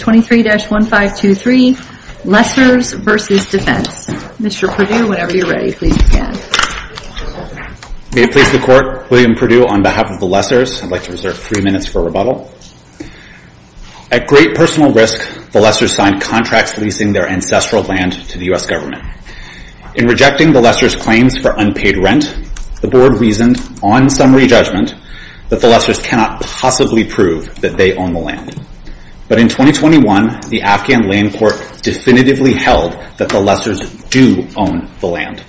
23-1523 Lessors v. Defense At great personal risk, the Lessors signed contracts leasing their ancestral land to the U.S. government. In rejecting the Lessors' claims for unpaid rent, the Board reasoned, on summary judgment, that the Lessors cannot possibly prove that they own the land. But in 2021, the Afghan Land Court definitively held that the Lessors do own the land.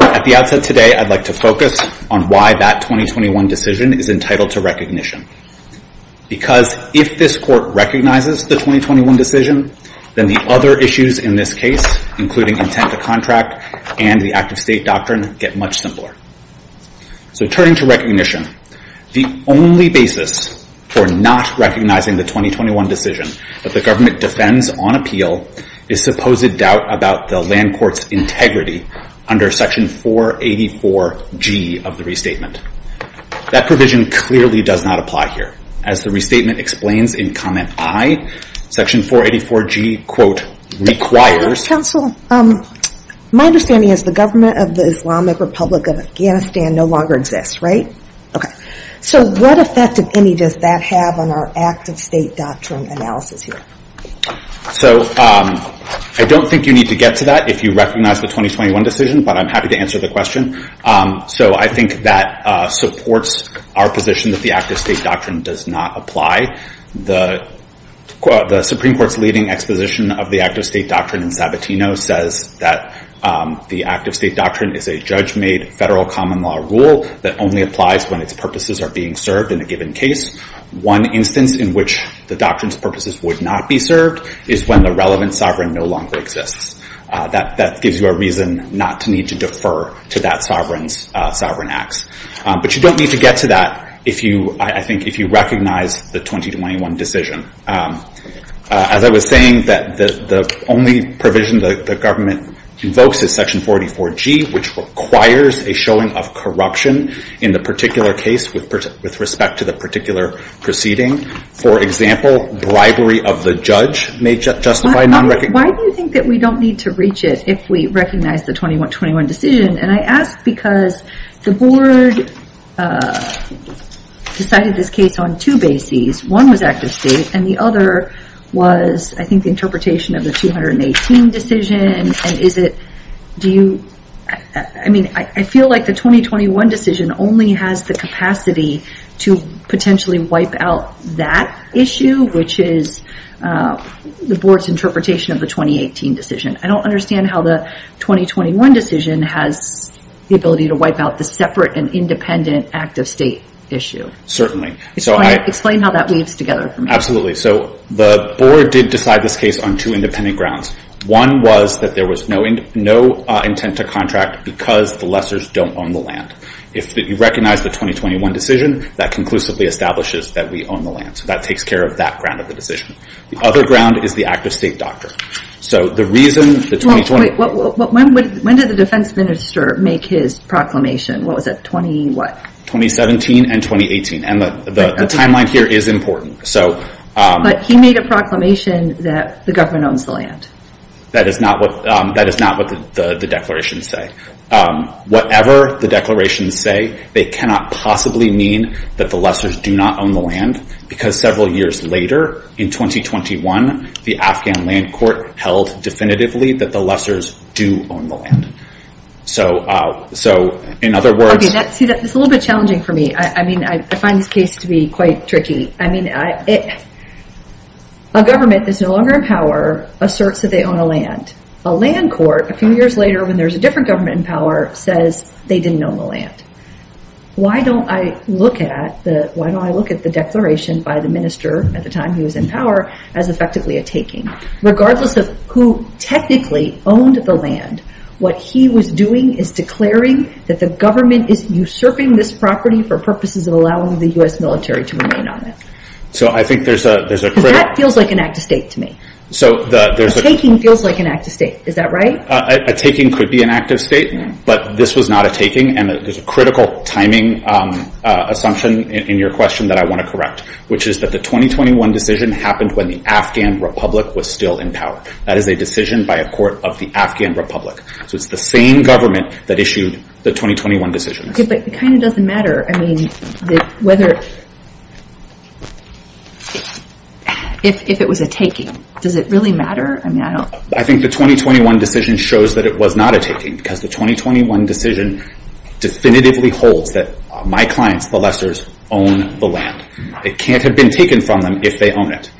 At the outset today, I'd like to focus on why that 2021 decision is entitled to recognition. Because if this Court recognizes the 2021 decision, then the other issues in this case, including intent to contract and the Act of State doctrine, get much simpler. So turning to recognition, the only basis for not recognizing the 2021 decision that the government defends on appeal is supposed doubt about the Land Court's integrity under Section 484G of the Restatement. That provision clearly does not apply here. As the Restatement explains in Comment I, Section 484G, quote, requires... My understanding is the government of the Islamic Republic of Afghanistan no longer exists, right? Okay. So what effect, if any, does that have on our Act of State doctrine analysis here? So I don't think you need to get to that if you recognize the 2021 decision, but I'm happy to answer the question. So I think that supports our position that the Act of State doctrine does not apply. The Supreme Court's leading exposition of the Act of State doctrine in Sabatino says that the Act of State doctrine is a judge-made federal common law rule that only applies when its purposes are being served in a given case. One instance in which the doctrine's purposes would not be served is when the relevant sovereign no longer exists. That gives you a reason not to need to defer to that sovereign's sovereign acts. But you don't need to get to that, I think, if you recognize the 2021 decision. As I was saying, the only provision the government invokes is Section 484G, which requires a showing of corruption in the particular case with respect to the particular proceeding. For example, bribery of the judge may justify non-recognition... Why do you think that we don't need to reach it if we recognize the 2021 decision? I ask because the Board decided this case on two bases. One was Act of State, and the other was, I think, the interpretation of the 2018 decision. I feel like the 2021 decision only has the capacity to potentially wipe out that issue, which is the Board's interpretation of the 2018 decision. I don't understand how the 2021 decision has the ability to wipe out the separate and independent Act of State issue. Certainly. Explain how that weaves together for me. Absolutely. So the Board did decide this case on two independent grounds. One was that there was no intent to contract because the lessors don't own the land. If you recognize the 2021 decision, that conclusively establishes that we own the land. So that takes care of that ground of the decision. The other ground is the Act of State doctrine. When did the defense minister make his proclamation? What was it? 2017 and 2018. The timeline here is important. But he made a proclamation that the government owns the land. That is not what the declarations say. Whatever the declarations say, they cannot possibly mean that the lessors do not own the land because several years later, in 2021, the Afghan Land Court held definitively that the lessors do own the land. So in other words... It's a little bit challenging for me. I mean, I find this case to be quite tricky. I mean, a government that's no longer in power asserts that they own the land. A land court, a few years later, when there's a different government in power, says they didn't own the land. Why don't I look at the declaration by the minister at the time he was in power as effectively a taking? Regardless of who technically owned the land, what he was doing is declaring that the government is usurping this property for purposes of allowing the U.S. military to remain on it. So I think there's a... Because that feels like an Act of State to me. A taking feels like an Act of State. Is that right? A taking could be an Act of State, but this was not a taking. And there's a critical timing assumption in your question that I want to correct, which is that the 2021 decision happened when the Afghan Republic was still in power. That is a decision by a court of the Afghan Republic. So it's the same government that issued the 2021 decision. But it kind of doesn't matter, I mean, whether... If it was a taking, does it really matter? I think the 2021 decision shows that it was not a taking, because the 2021 decision definitively holds that my clients, the lessors, own the land. It can't have been taken from them if they own it.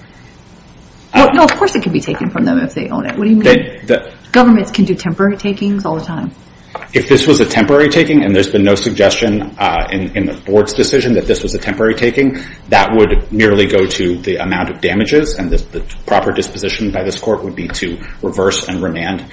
No, of course it can be taken from them if they own it. What do you mean? Governments can do temporary takings all the time. If this was a temporary taking, and there's been no suggestion in the board's decision that this was a temporary taking, that would merely go to the amount of damages, and the proper disposition by this court would be to reverse and remand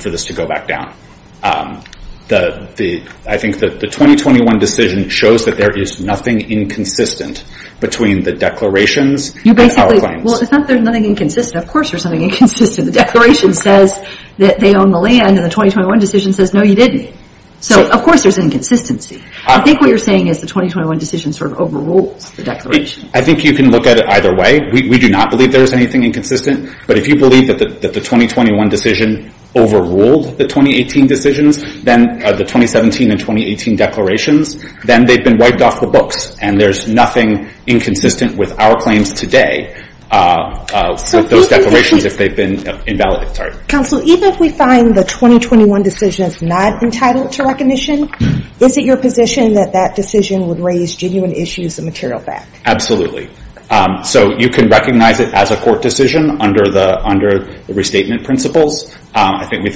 for this to go back down. I think that the 2021 decision shows that there is nothing inconsistent between the declarations and our claims. Well, it's not that there's nothing inconsistent. Of course there's something inconsistent. The declaration says that they own the land, and the 2021 decision says, no, you didn't. So of course there's inconsistency. I think what you're saying is the 2021 decision sort of overrules the declaration. I think you can look at it either way. We do not believe there is anything inconsistent. But if you believe that the 2021 decision overruled the 2018 decisions, then the 2017 and 2018 declarations, then they've been wiped off the books, and there's nothing inconsistent with our claims today with those declarations if they've been invalid. Counsel, even if we find the 2021 decision is not entitled to recognition, is it your position that that decision would raise genuine issues of material fact? Absolutely. So you can recognize it as a court decision under the restatement principles. I think,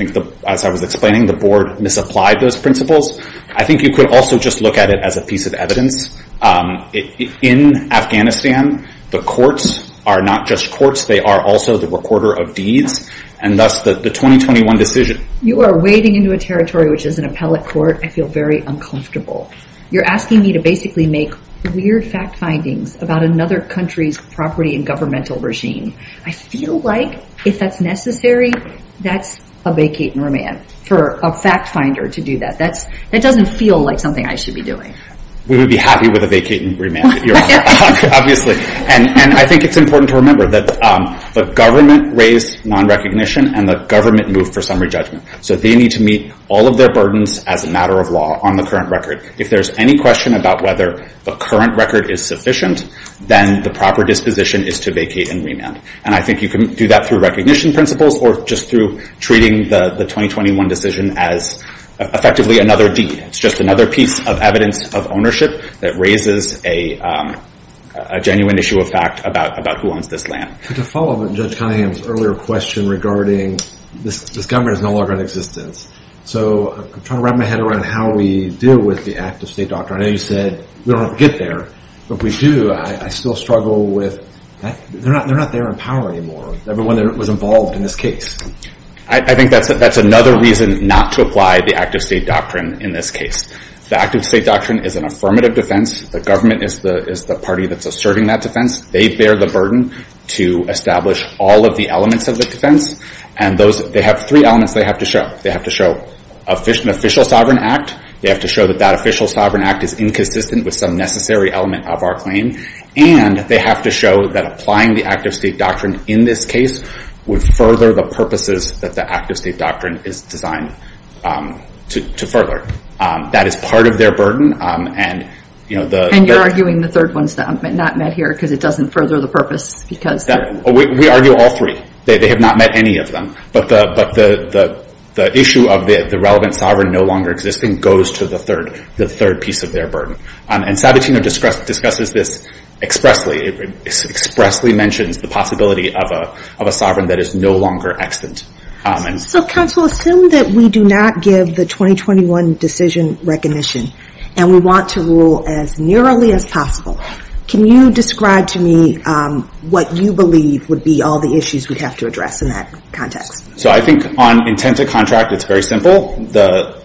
as I was explaining, the board misapplied those principles. I think you could also just look at it as a piece of evidence. In Afghanistan, the courts are not just courts. They are also the recorder of deeds, and thus the 2021 decision. You are wading into a territory which is an appellate court. I feel very uncomfortable. You're asking me to basically make weird fact findings about another country's property and governmental regime. I feel like, if that's necessary, that's a vacate and remand for a fact finder to do that. That doesn't feel like something I should be doing. We would be happy with a vacate and remand, obviously. I think it's important to remember that the government raised non-recognition, and the government moved for summary judgment. So they need to meet all of their burdens as a matter of law on the current record. If there's any question about whether the current record is sufficient, then the proper disposition is to vacate and remand. I think you can do that through recognition principles, or just through treating the 2021 decision as effectively another deed. It's just another piece of evidence of ownership that raises a genuine issue of fact about who owns this land. To follow up on Judge Cunningham's earlier question regarding this government is no longer in existence, so I'm trying to wrap my head around how we deal with the active state doctrine. I know you said we don't have to get there, but if we do, I still struggle with that. They're not there in power anymore, everyone that was involved in this case. I think that's another reason not to apply the active state doctrine in this case. The active state doctrine is an affirmative defense. The government is the party that's asserting that defense. They bear the burden to establish all of the elements of the defense, and they have three elements they have to show. They have to show an official sovereign act. They have to show that that official sovereign act is inconsistent with some necessary element of our claim, and they have to show that applying the active state doctrine in this case would further the purposes that the active state doctrine is designed to further. That is part of their burden. And you're arguing the third one's not met here because it doesn't further the purpose. We argue all three. They have not met any of them. But the issue of the relevant sovereign no longer existing goes to the third piece of their burden. And Sabatino discusses this expressly. It expressly mentions the possibility of a sovereign that is no longer extant. So, counsel, assume that we do not give the 2021 decision recognition, and we want to rule as nearly as possible. Can you describe to me what you believe would be all the issues we'd have to address in that context? So I think on intent to contract, it's very simple.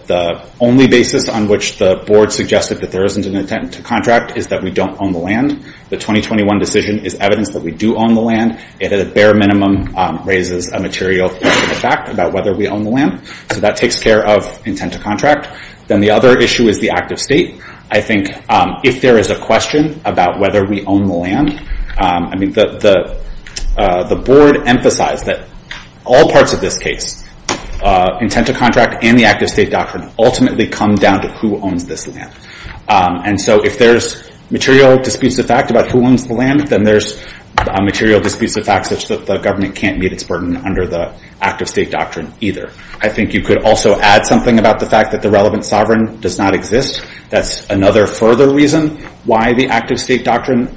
The only basis on which the board suggested that there isn't an intent to contract is that we don't own the land. The 2021 decision is evidence that we do own the land. It, at a bare minimum, raises a material question of fact about whether we own the land. So that takes care of intent to contract. Then the other issue is the active state. I think if there is a question about whether we own the land, the board emphasized that all parts of this case, intent to contract and the active state doctrine, ultimately come down to who owns this land. And so if there's material disputes of fact about who owns the land, then there's material disputes of fact such that the government can't meet its burden under the active state doctrine either. I think you could also add something about the fact that the relevant sovereign does not exist. That's another further reason why the active state doctrine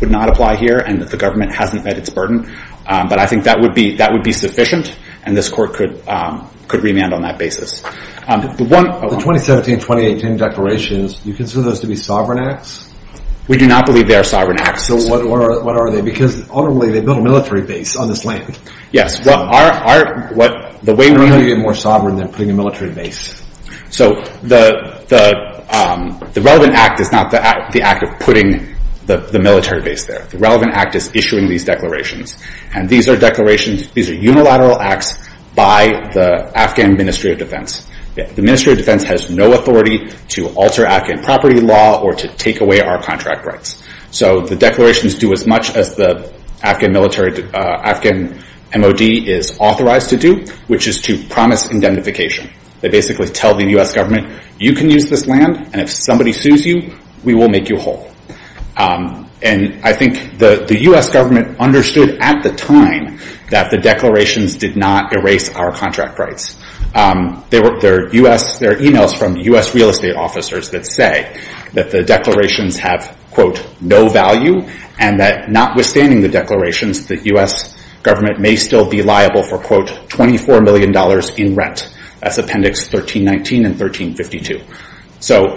would not apply here, and that the government hasn't met its burden. But I think that would be sufficient, and this court could remand on that basis. The 2017-2018 declarations, do you consider those to be sovereign acts? We do not believe they are sovereign acts. So what are they? Because ultimately, they build a military base on this land. Yes. How do you get more sovereign than putting a military base? So the relevant act is not the act of putting the military base there. The relevant act is issuing these declarations. And these are declarations, these are unilateral acts by the Afghan Ministry of Defense. The Ministry of Defense has no authority to alter Afghan property law or to take away our contract rights. So the declarations do as much as the Afghan military, Afghan MOD is authorized to do, which is to promise indemnification. They basically tell the U.S. government, you can use this land, and if somebody sues you, we will make you whole. And I think the U.S. government understood at the time that the declarations did not erase our contract rights. There are emails from U.S. real estate officers that say that the declarations have, quote, no value, and that notwithstanding the declarations, the U.S. government may still be liable for, quote, $24 million in rent. That's Appendix 1319 and 1352. So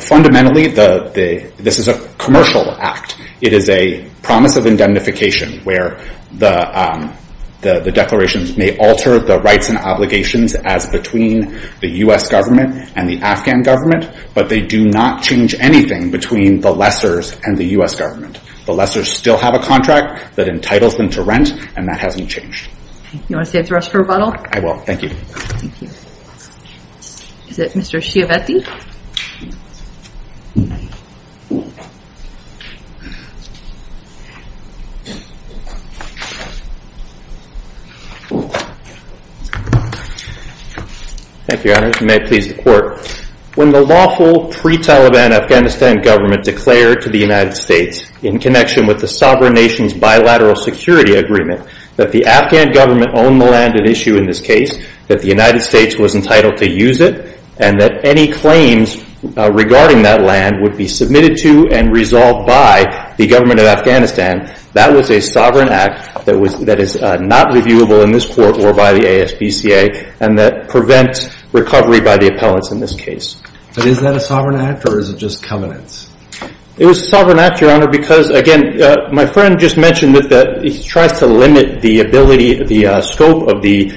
fundamentally, this is a commercial act. It is a promise of indemnification where the declarations may alter the rights and obligations as between the U.S. government and the Afghan government, but they do not change anything between the lessors and the U.S. government. The lessors still have a contract that entitles them to rent, and that hasn't changed. You want to say it to us for rebuttal? I will. Thank you. Thank you. Is it Mr. Chiavetti? Thank you, Your Honor. When the lawful pre-Taliban Afghanistan government declared to the United States in connection with the sovereign nation's bilateral security agreement that the Afghan government owned the land at issue in this case, that the United States was entitled to use it, and that any claims regarding that land would be submitted to and resolved by the government of Afghanistan, that was a sovereign act that is not reviewable in this court or by the ASPCA and that prevents recovery by the appellants in this case. But is that a sovereign act or is it just covenants? It was a sovereign act, Your Honor, because, again, my friend just mentioned that he tries to limit the ability, the scope of the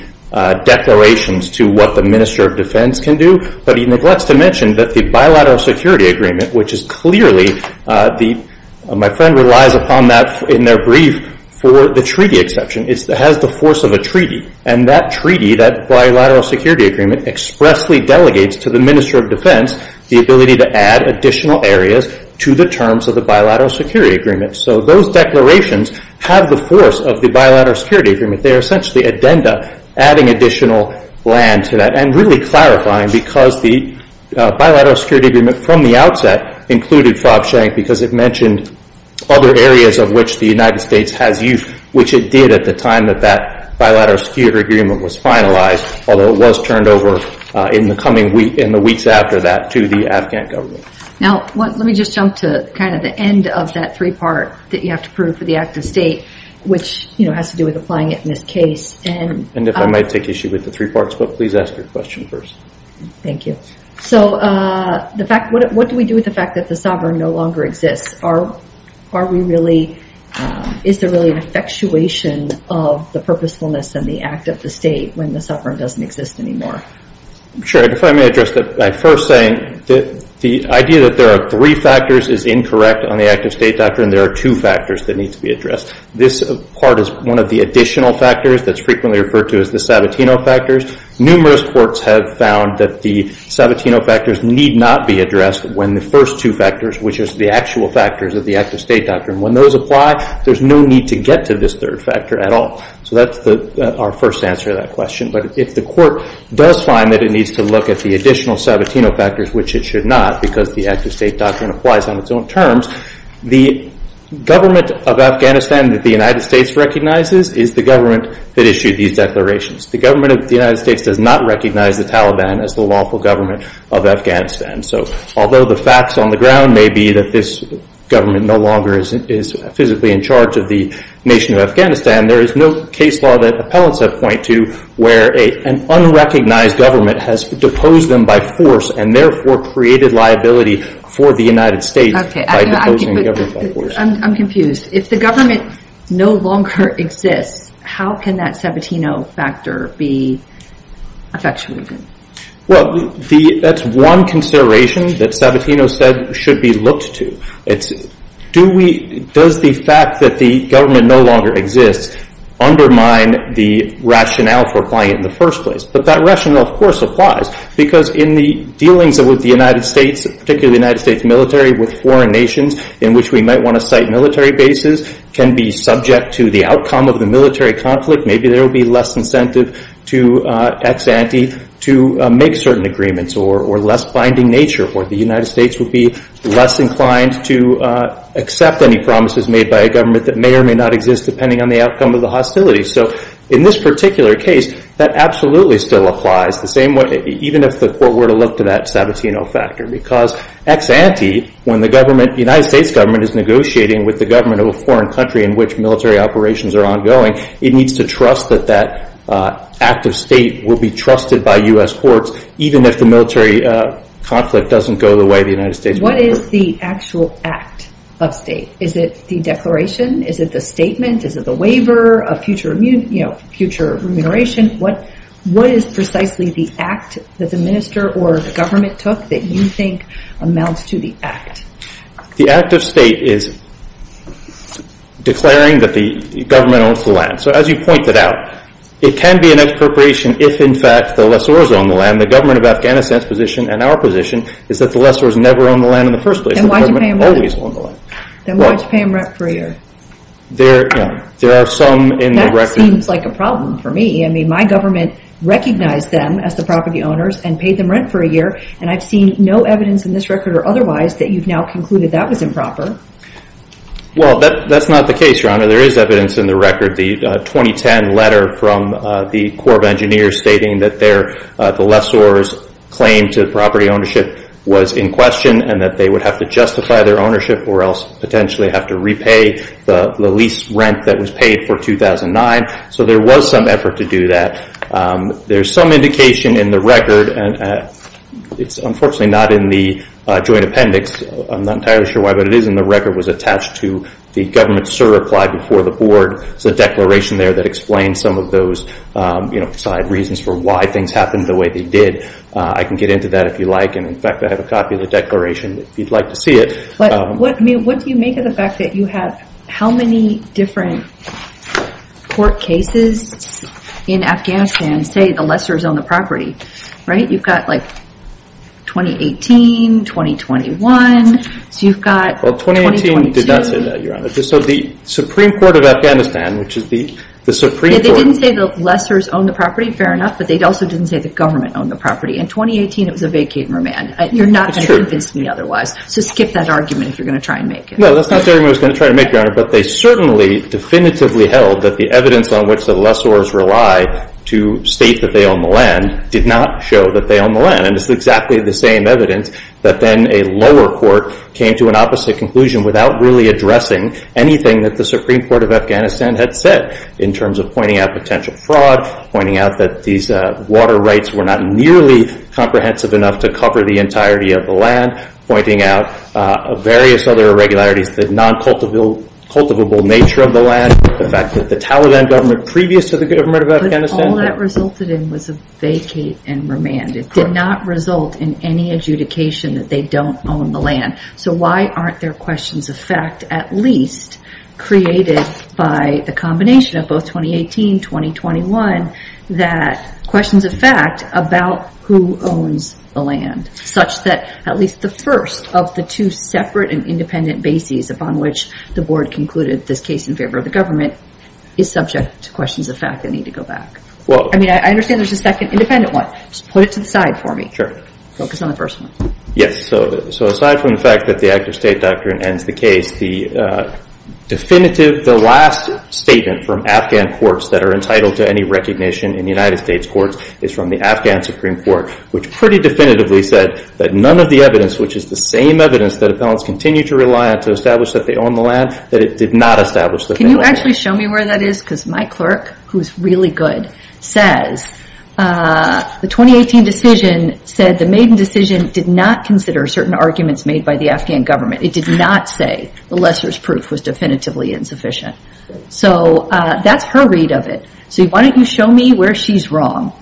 declarations to what the Minister of Defense can do, but he neglects to mention that the bilateral security agreement, which is clearly, my friend relies upon that in their brief for the treaty exception, has the force of a treaty, and that treaty, that bilateral security agreement, expressly delegates to the Minister of Defense the ability to add additional areas to the terms of the bilateral security agreement. So those declarations have the force of the bilateral security agreement. They are essentially addenda, adding additional land to that, and really clarifying because the bilateral security agreement from the outset included FOB Schenck because it mentioned other areas of which the United States has use, which it did at the time that that bilateral security agreement was finalized, although it was turned over in the weeks after that to the Afghan government. Now, let me just jump to kind of the end of that three-part that you have to prove for the act of state, which has to do with applying it in this case. And if I might take issue with the three parts, but please ask your question first. Thank you. So what do we do with the fact that the sovereign no longer exists? Are we really, is there really an effectuation of the purposefulness and the act of the state when the sovereign doesn't exist anymore? Sure. If I may address that by first saying that the idea that there are three factors is incorrect on the act of state doctrine. There are two factors that need to be addressed. This part is one of the additional factors that's frequently referred to as the Sabatino factors. Numerous courts have found that the Sabatino factors need not be addressed when the first two factors, which is the actual factors of the act of state doctrine, when those apply, there's no need to get to this third factor at all. So that's our first answer to that question. But if the court does find that it needs to look at the additional Sabatino factors, which it should not because the act of state doctrine applies on its own terms, the government of Afghanistan that the United States recognizes is the government that issued these declarations. The government of the United States does not recognize the Taliban as the lawful government of Afghanistan. So although the facts on the ground may be that this government no longer is physically in charge of the nation of Afghanistan, there is no case law that appellants have point to where an unrecognized government has deposed them by force and therefore created liability for the United States by deposing the government by force. I'm confused. If the government no longer exists, how can that Sabatino factor be effectuated? Well, that's one consideration that Sabatino said should be looked to. Does the fact that the government no longer exists undermine the rationale for applying it in the first place? But that rationale, of course, applies because in the dealings with the United States, particularly the United States military with foreign nations in which we might want to cite military bases, can be subject to the outcome of the military conflict. Maybe there will be less incentive to ex-ante to make certain agreements or less binding nature or the United States will be less inclined to accept any promises made by a government that may or may not exist depending on the outcome of the hostility. So in this particular case, that absolutely still applies, even if the court were to look to that Sabatino factor. Because ex-ante, when the United States government is negotiating with the government of a foreign country in which military operations are ongoing, it needs to trust that that act of state will be trusted by U.S. courts, even if the military conflict doesn't go the way the United States would. What is the actual act of state? Is it the declaration? Is it the statement? Is it the waiver of future remuneration? What is precisely the act that the minister or the government took that you think amounts to the act? The act of state is declaring that the government owns the land. So as you pointed out, it can be an expropriation if in fact the lessor is on the land. The government of Afghanistan's position and our position is that the lessor has never owned the land in the first place. Then why did you pay him rent for a year? That seems like a problem for me. I mean, my government recognized them as the property owners and paid them rent for a year and I've seen no evidence in this record or otherwise that you've now concluded that was improper. Well, that's not the case, Your Honor. There is evidence in the record, the 2010 letter from the Corps of Engineers stating that the lessor's claim to property ownership was in question and that they would have to justify their ownership or else potentially have to repay the lease rent that was paid for 2009. So there was some effort to do that. There's some indication in the record and it's unfortunately not in the joint appendix. I'm not entirely sure why, but it is in the record. It was attached to the government's certified before the board. It's a declaration there that explains some of those side reasons for why things happened the way they did. I can get into that if you like. In fact, I have a copy of the declaration if you'd like to see it. What do you make of the fact that you have how many different court cases in Afghanistan say the lessor's own the property, right? You've got like 2018, 2021, so you've got... Well, 2018 did not say that, Your Honor. So the Supreme Court of Afghanistan, which is the Supreme Court... Yeah, they didn't say the lessor's owned the property, fair enough, but they also didn't say the government owned the property. In 2018, it was a vacating remand. You're not going to convince me otherwise. So skip that argument if you're going to try and make it. No, that's not the argument I was going to try to make, Your Honor, but they certainly definitively held that the evidence on which the lessors rely to state that they own the land did not show that they own the land. And it's exactly the same evidence that then a lower court came to an opposite conclusion without really addressing anything that the Supreme Court of Afghanistan had said in terms of pointing out potential fraud, pointing out that these water rights were not nearly comprehensive enough to cover the entirety of the land, pointing out various other irregularities, the non-cultivable nature of the land, the fact that the Taliban government previous to the government of Afghanistan... But all that resulted in was a vacate and remand. It did not result in any adjudication that they don't own the land. So why aren't there questions of fact at least created by the combination of both 2018, 2021, that questions of fact about who owns the land, such that at least the first of the two separate and independent bases upon which the board concluded this case in favor of the government is subject to questions of fact that need to go back. I mean, I understand there's a second independent one. Just put it to the side for me. Focus on the first one. Yes. So aside from the fact that the active state doctrine ends the case, the definitive, the last statement from Afghan courts that are entitled to any recognition in the United States courts is from the Afghan Supreme Court, which pretty definitively said that none of the evidence, which is the same evidence that appellants continue to rely on to establish that they own the land, that it did not establish that they own the land. Can you actually show me where that is? Because my clerk, who's really good, says the 2018 decision said the Maiden decision did not consider certain arguments made by the Afghan government. It did not say the lesser's proof was definitively insufficient. So that's her read of it. So why don't you show me where she's wrong?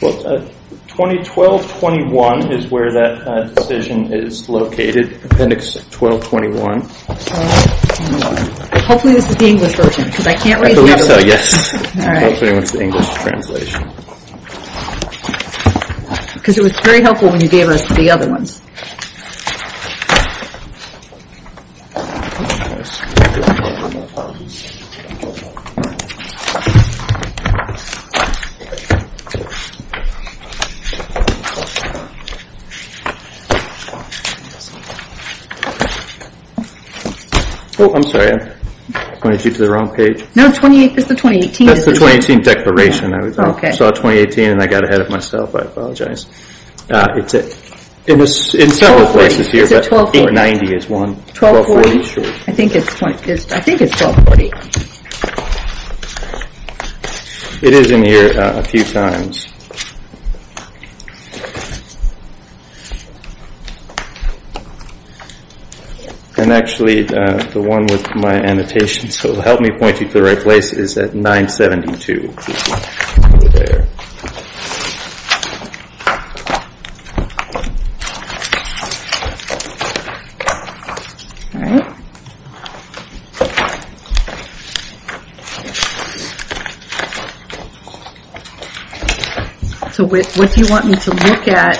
Well, 2012-21 is where that decision is located, Appendix 12-21. Hopefully this is the English version because I can't read the other ones. I believe so, yes. All right. Hopefully it's the English translation. Because it was very helpful when you gave us the other ones. Oh, I'm sorry. I pointed you to the wrong page. No, it's the 2018. That's the 2018 declaration. I saw 2018 and I got ahead of myself. I apologize. It was in several places here. It's at 1240. Or 90 is one. 1240. I think it's 1240. It is in here a few times. And actually the one with my annotation, so help me point you to the right place, is at 972. Over there. All right. So what do you want me to look at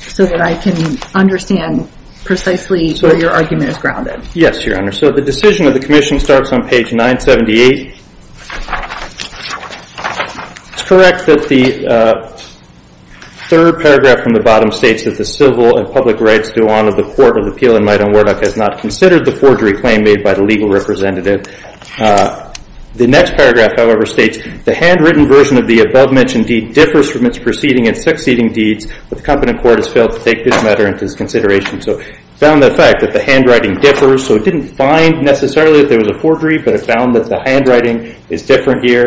so that I can understand precisely where your argument is grounded? Yes, Your Honor. So the decision of the Commission starts on page 978. It's correct that the third paragraph from the bottom states that the civil and public rights to honor the Court of Appeal in Midam Wardock has not considered the forgery claim made by the legal representative. The next paragraph, however, states, the handwritten version of the above-mentioned deed differs from its preceding and succeeding deeds, but the Competent Court has failed to take this matter into its consideration. So it found the fact that the handwriting differs. So it didn't find necessarily that there was a forgery, but it found that the handwriting is different here.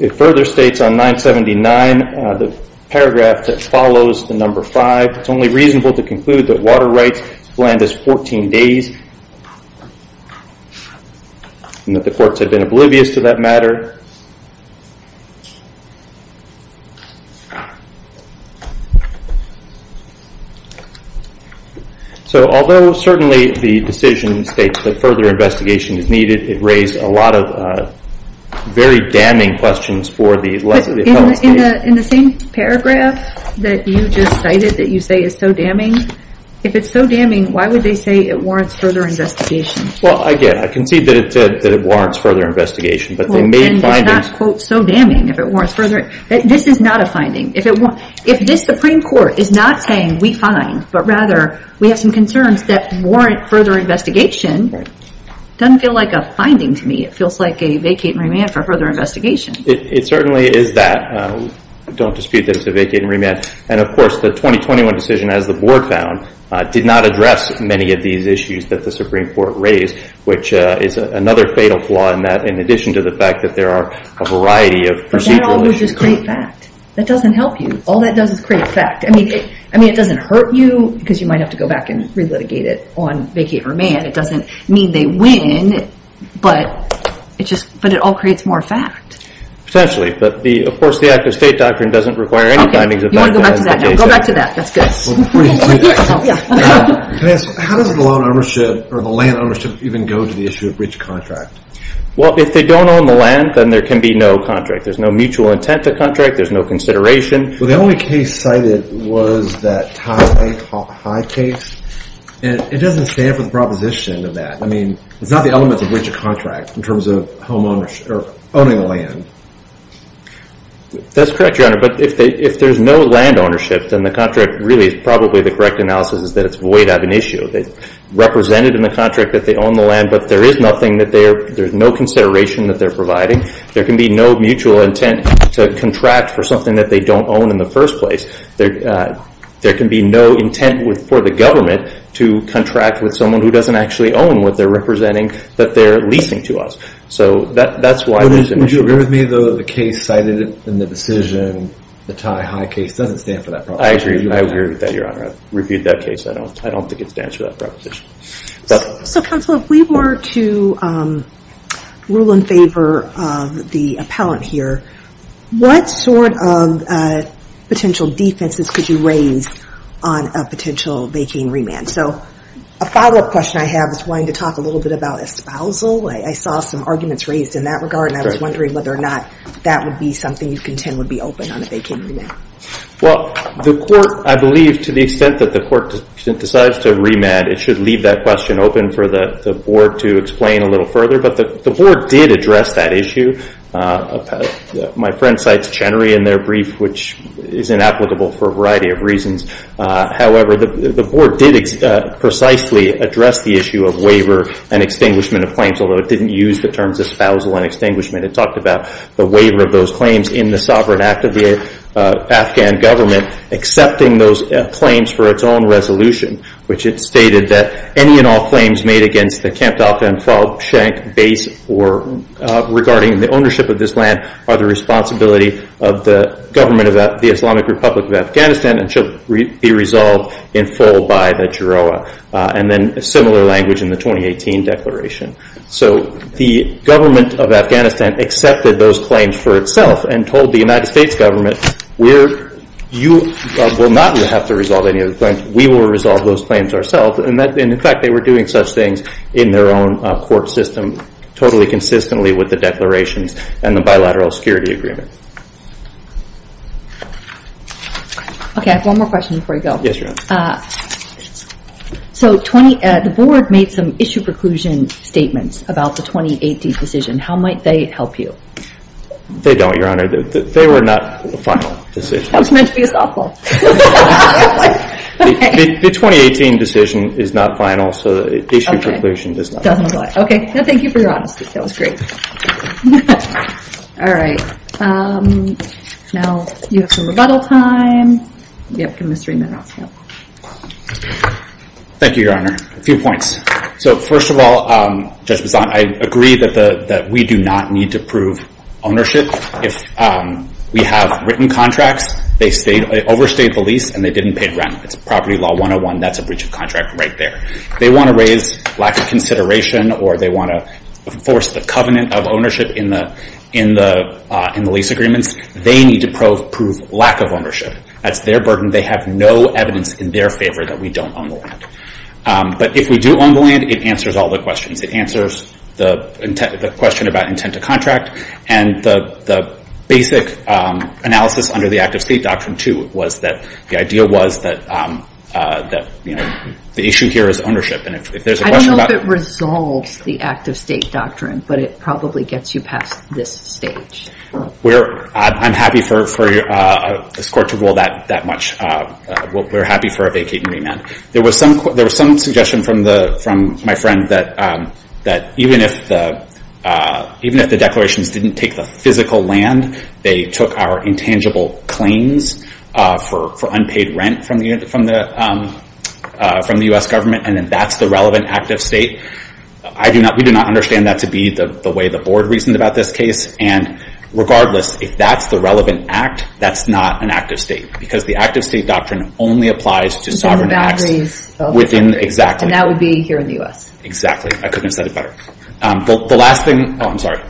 It further states on 979, the paragraph that follows the number 5, it's only reasonable to conclude that water rights land us 14 days and that the courts had been oblivious to that matter. So although certainly the decision states that further investigation is needed, it raised a lot of very damning questions for the... But in the same paragraph that you just cited that you say is so damning, if it's so damning, why would they say it warrants further investigation? Well, again, I concede that it warrants further investigation, but they may not be able to do that. It's not, quote, so damning if it warrants further... This is not a finding. If this Supreme Court is not saying we find, but rather we have some concerns that warrant further investigation, it doesn't feel like a finding to me. It feels like a vacate and remand for further investigation. It certainly is that. Don't dispute that it's a vacate and remand. And, of course, the 2021 decision, as the Board found, did not address many of these issues that the Supreme Court raised, which is another fatal flaw in that, in addition to the fact that there are a variety of procedural issues. But that all would just create fact. That doesn't help you. All that does is create fact. I mean, it doesn't hurt you, because you might have to go back and relitigate it on vacate and remand. It doesn't mean they win, but it all creates more fact. Potentially. But, of course, the act-of-state doctrine doesn't require any findings... You want to go back to that? Go back to that. That's good. Can I ask, how does the land ownership even go to the issue of breach of contract? Well, if they don't own the land, then there can be no contract. There's no mutual intent to contract. There's no consideration. Well, the only case cited was that Tai Hai case, and it doesn't stand for the proposition of that. I mean, it's not the elements of breach of contract in terms of owning the land. That's correct, Your Honor. But if there's no land ownership, then the contract really is probably the correct analysis is that it's void of an issue. It's represented in the contract that they own the land, but there is nothing that they're... There's no consideration that they're providing. There can be no mutual intent to contract for something that they don't own in the first place. There can be no intent for the government to contract with someone who doesn't actually own what they're representing that they're leasing to us. So that's why there's an issue. Would you agree with me, though, that the case cited in the decision, the Tai Hai case, doesn't stand for that proposition? I agree. I agree with that, Your Honor. I've reviewed that case. I don't think it stands for that proposition. So, Counselor, if we were to rule in favor of the appellant here, what sort of potential defenses could you raise on a potential vacant remand? So a follow-up question I have is wanting to talk a little bit about espousal. I saw some arguments raised in that regard, and I was wondering whether or not that would be something you contend would be open on a vacant remand. Well, the court, I believe, to the extent that the court decides to remand, it should leave that question open for the Board to explain a little further. But the Board did address that issue. My friend cites Chenery in their brief, which is inapplicable for a variety of reasons. However, the Board did precisely address the issue of waiver and extinguishment of claims, although it didn't use the terms espousal and extinguishment. It talked about the waiver of those claims in the sovereign act of the Afghan government, accepting those claims for its own resolution, which it stated that any and all claims made against the Kamp-Talqa and Falchank base regarding the ownership of this land are the responsibility of the government of the Islamic Republic of Afghanistan and should be resolved in full by the Jeroa, and then similar language in the 2018 declaration. So the government of Afghanistan accepted those claims for itself and told the United States government, you will not have to resolve any of the claims, we will resolve those claims ourselves. And in fact, they were doing such things in their own court system, totally consistently with the declarations and the bilateral security agreement. Okay, I have one more question before you go. Yes, Your Honor. So the board made some issue preclusion statements about the 2018 decision. How might they help you? They don't, Your Honor. They were not a final decision. That's meant to be a softball. The 2018 decision is not final, so issue preclusion does not help. Okay, thank you for your honesty. That was great. All right. Now you have some rebuttal time. Yep, Mr. Emanoff. Thank you, Your Honor. A few points. So first of all, Judge Bessant, I agree that we do not need to prove ownership. If we have written contracts, they overstayed the lease, and they didn't pay rent. It's Property Law 101, that's a breach of contract right there. They want to raise lack of consideration or they want to force the covenant of ownership in the lease agreements. They need to prove lack of ownership. That's their burden. They have no evidence in their favor that we don't own the land. But if we do own the land, it answers all the questions. It answers the question about intent to contract and the basic analysis under the Act of State Doctrine 2 was that the idea was that the issue here is ownership. I don't know if it resolves the Act of State Doctrine, but it probably gets you past this stage. I'm happy for this Court to rule that much. We're happy for a vacating remand. There was some suggestion from my friend that even if the declarations didn't take the physical land, they took our intangible claims for unpaid rent from the U.S. government, and that's the relevant Act of State. We do not understand that to be the way the Board reasoned about this case, and regardless, if that's the relevant Act, that's not an Act of State because the Act of State Doctrine only applies to sovereign assets. And that would be here in the U.S. Exactly. I couldn't have said it better. The last thing... Oh, I'm sorry.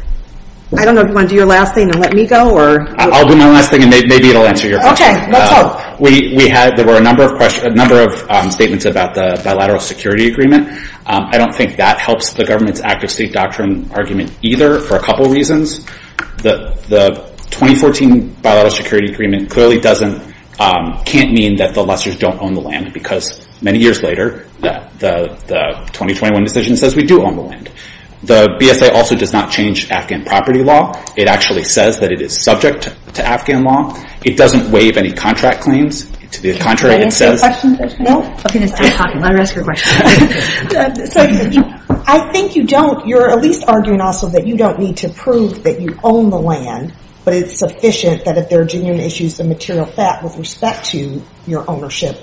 I don't know if you want to do your last thing and let me go, or... I'll do my last thing, and maybe it'll answer your question. Okay, let's hope. There were a number of statements about the bilateral security agreement. I don't think that helps the government's Act of State Doctrine argument either for a couple reasons. The 2014 bilateral security agreement clearly doesn't... can't mean that the lessors don't own the land because many years later, the 2021 decision says we do own the land. The BSA also does not change Afghan property law. It actually says that it is subject to Afghan law. It doesn't waive any contract claims. To the contrary, it says... Can I ask you a question? No. Okay, let's stop talking. Let her ask her question. I think you don't... You're at least arguing also that you don't need to prove that you own the land, but it's sufficient that if there are genuine issues of material fact with respect to your ownership,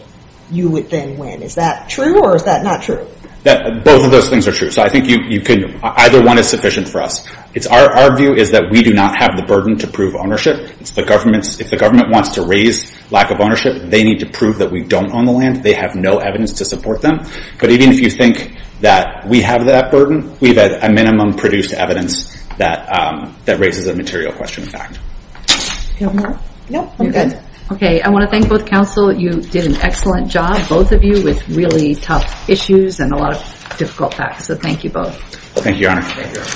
you would then win. Is that true or is that not true? Both of those things are true. So I think you can... Either one is sufficient for us. Our view is that we do not have the burden to prove ownership. It's the government's... If the government wants to raise lack of ownership, they need to prove that we don't own the land. They have no evidence to support them. But even if you think that we have that burden, we've had a minimum produced evidence that raises a material question of fact. Do you have more? No, I'm good. Okay, I want to thank both counsel. You did an excellent job, both of you, with really tough issues and a lot of difficult facts. So thank you both. Thank you, Your Honor.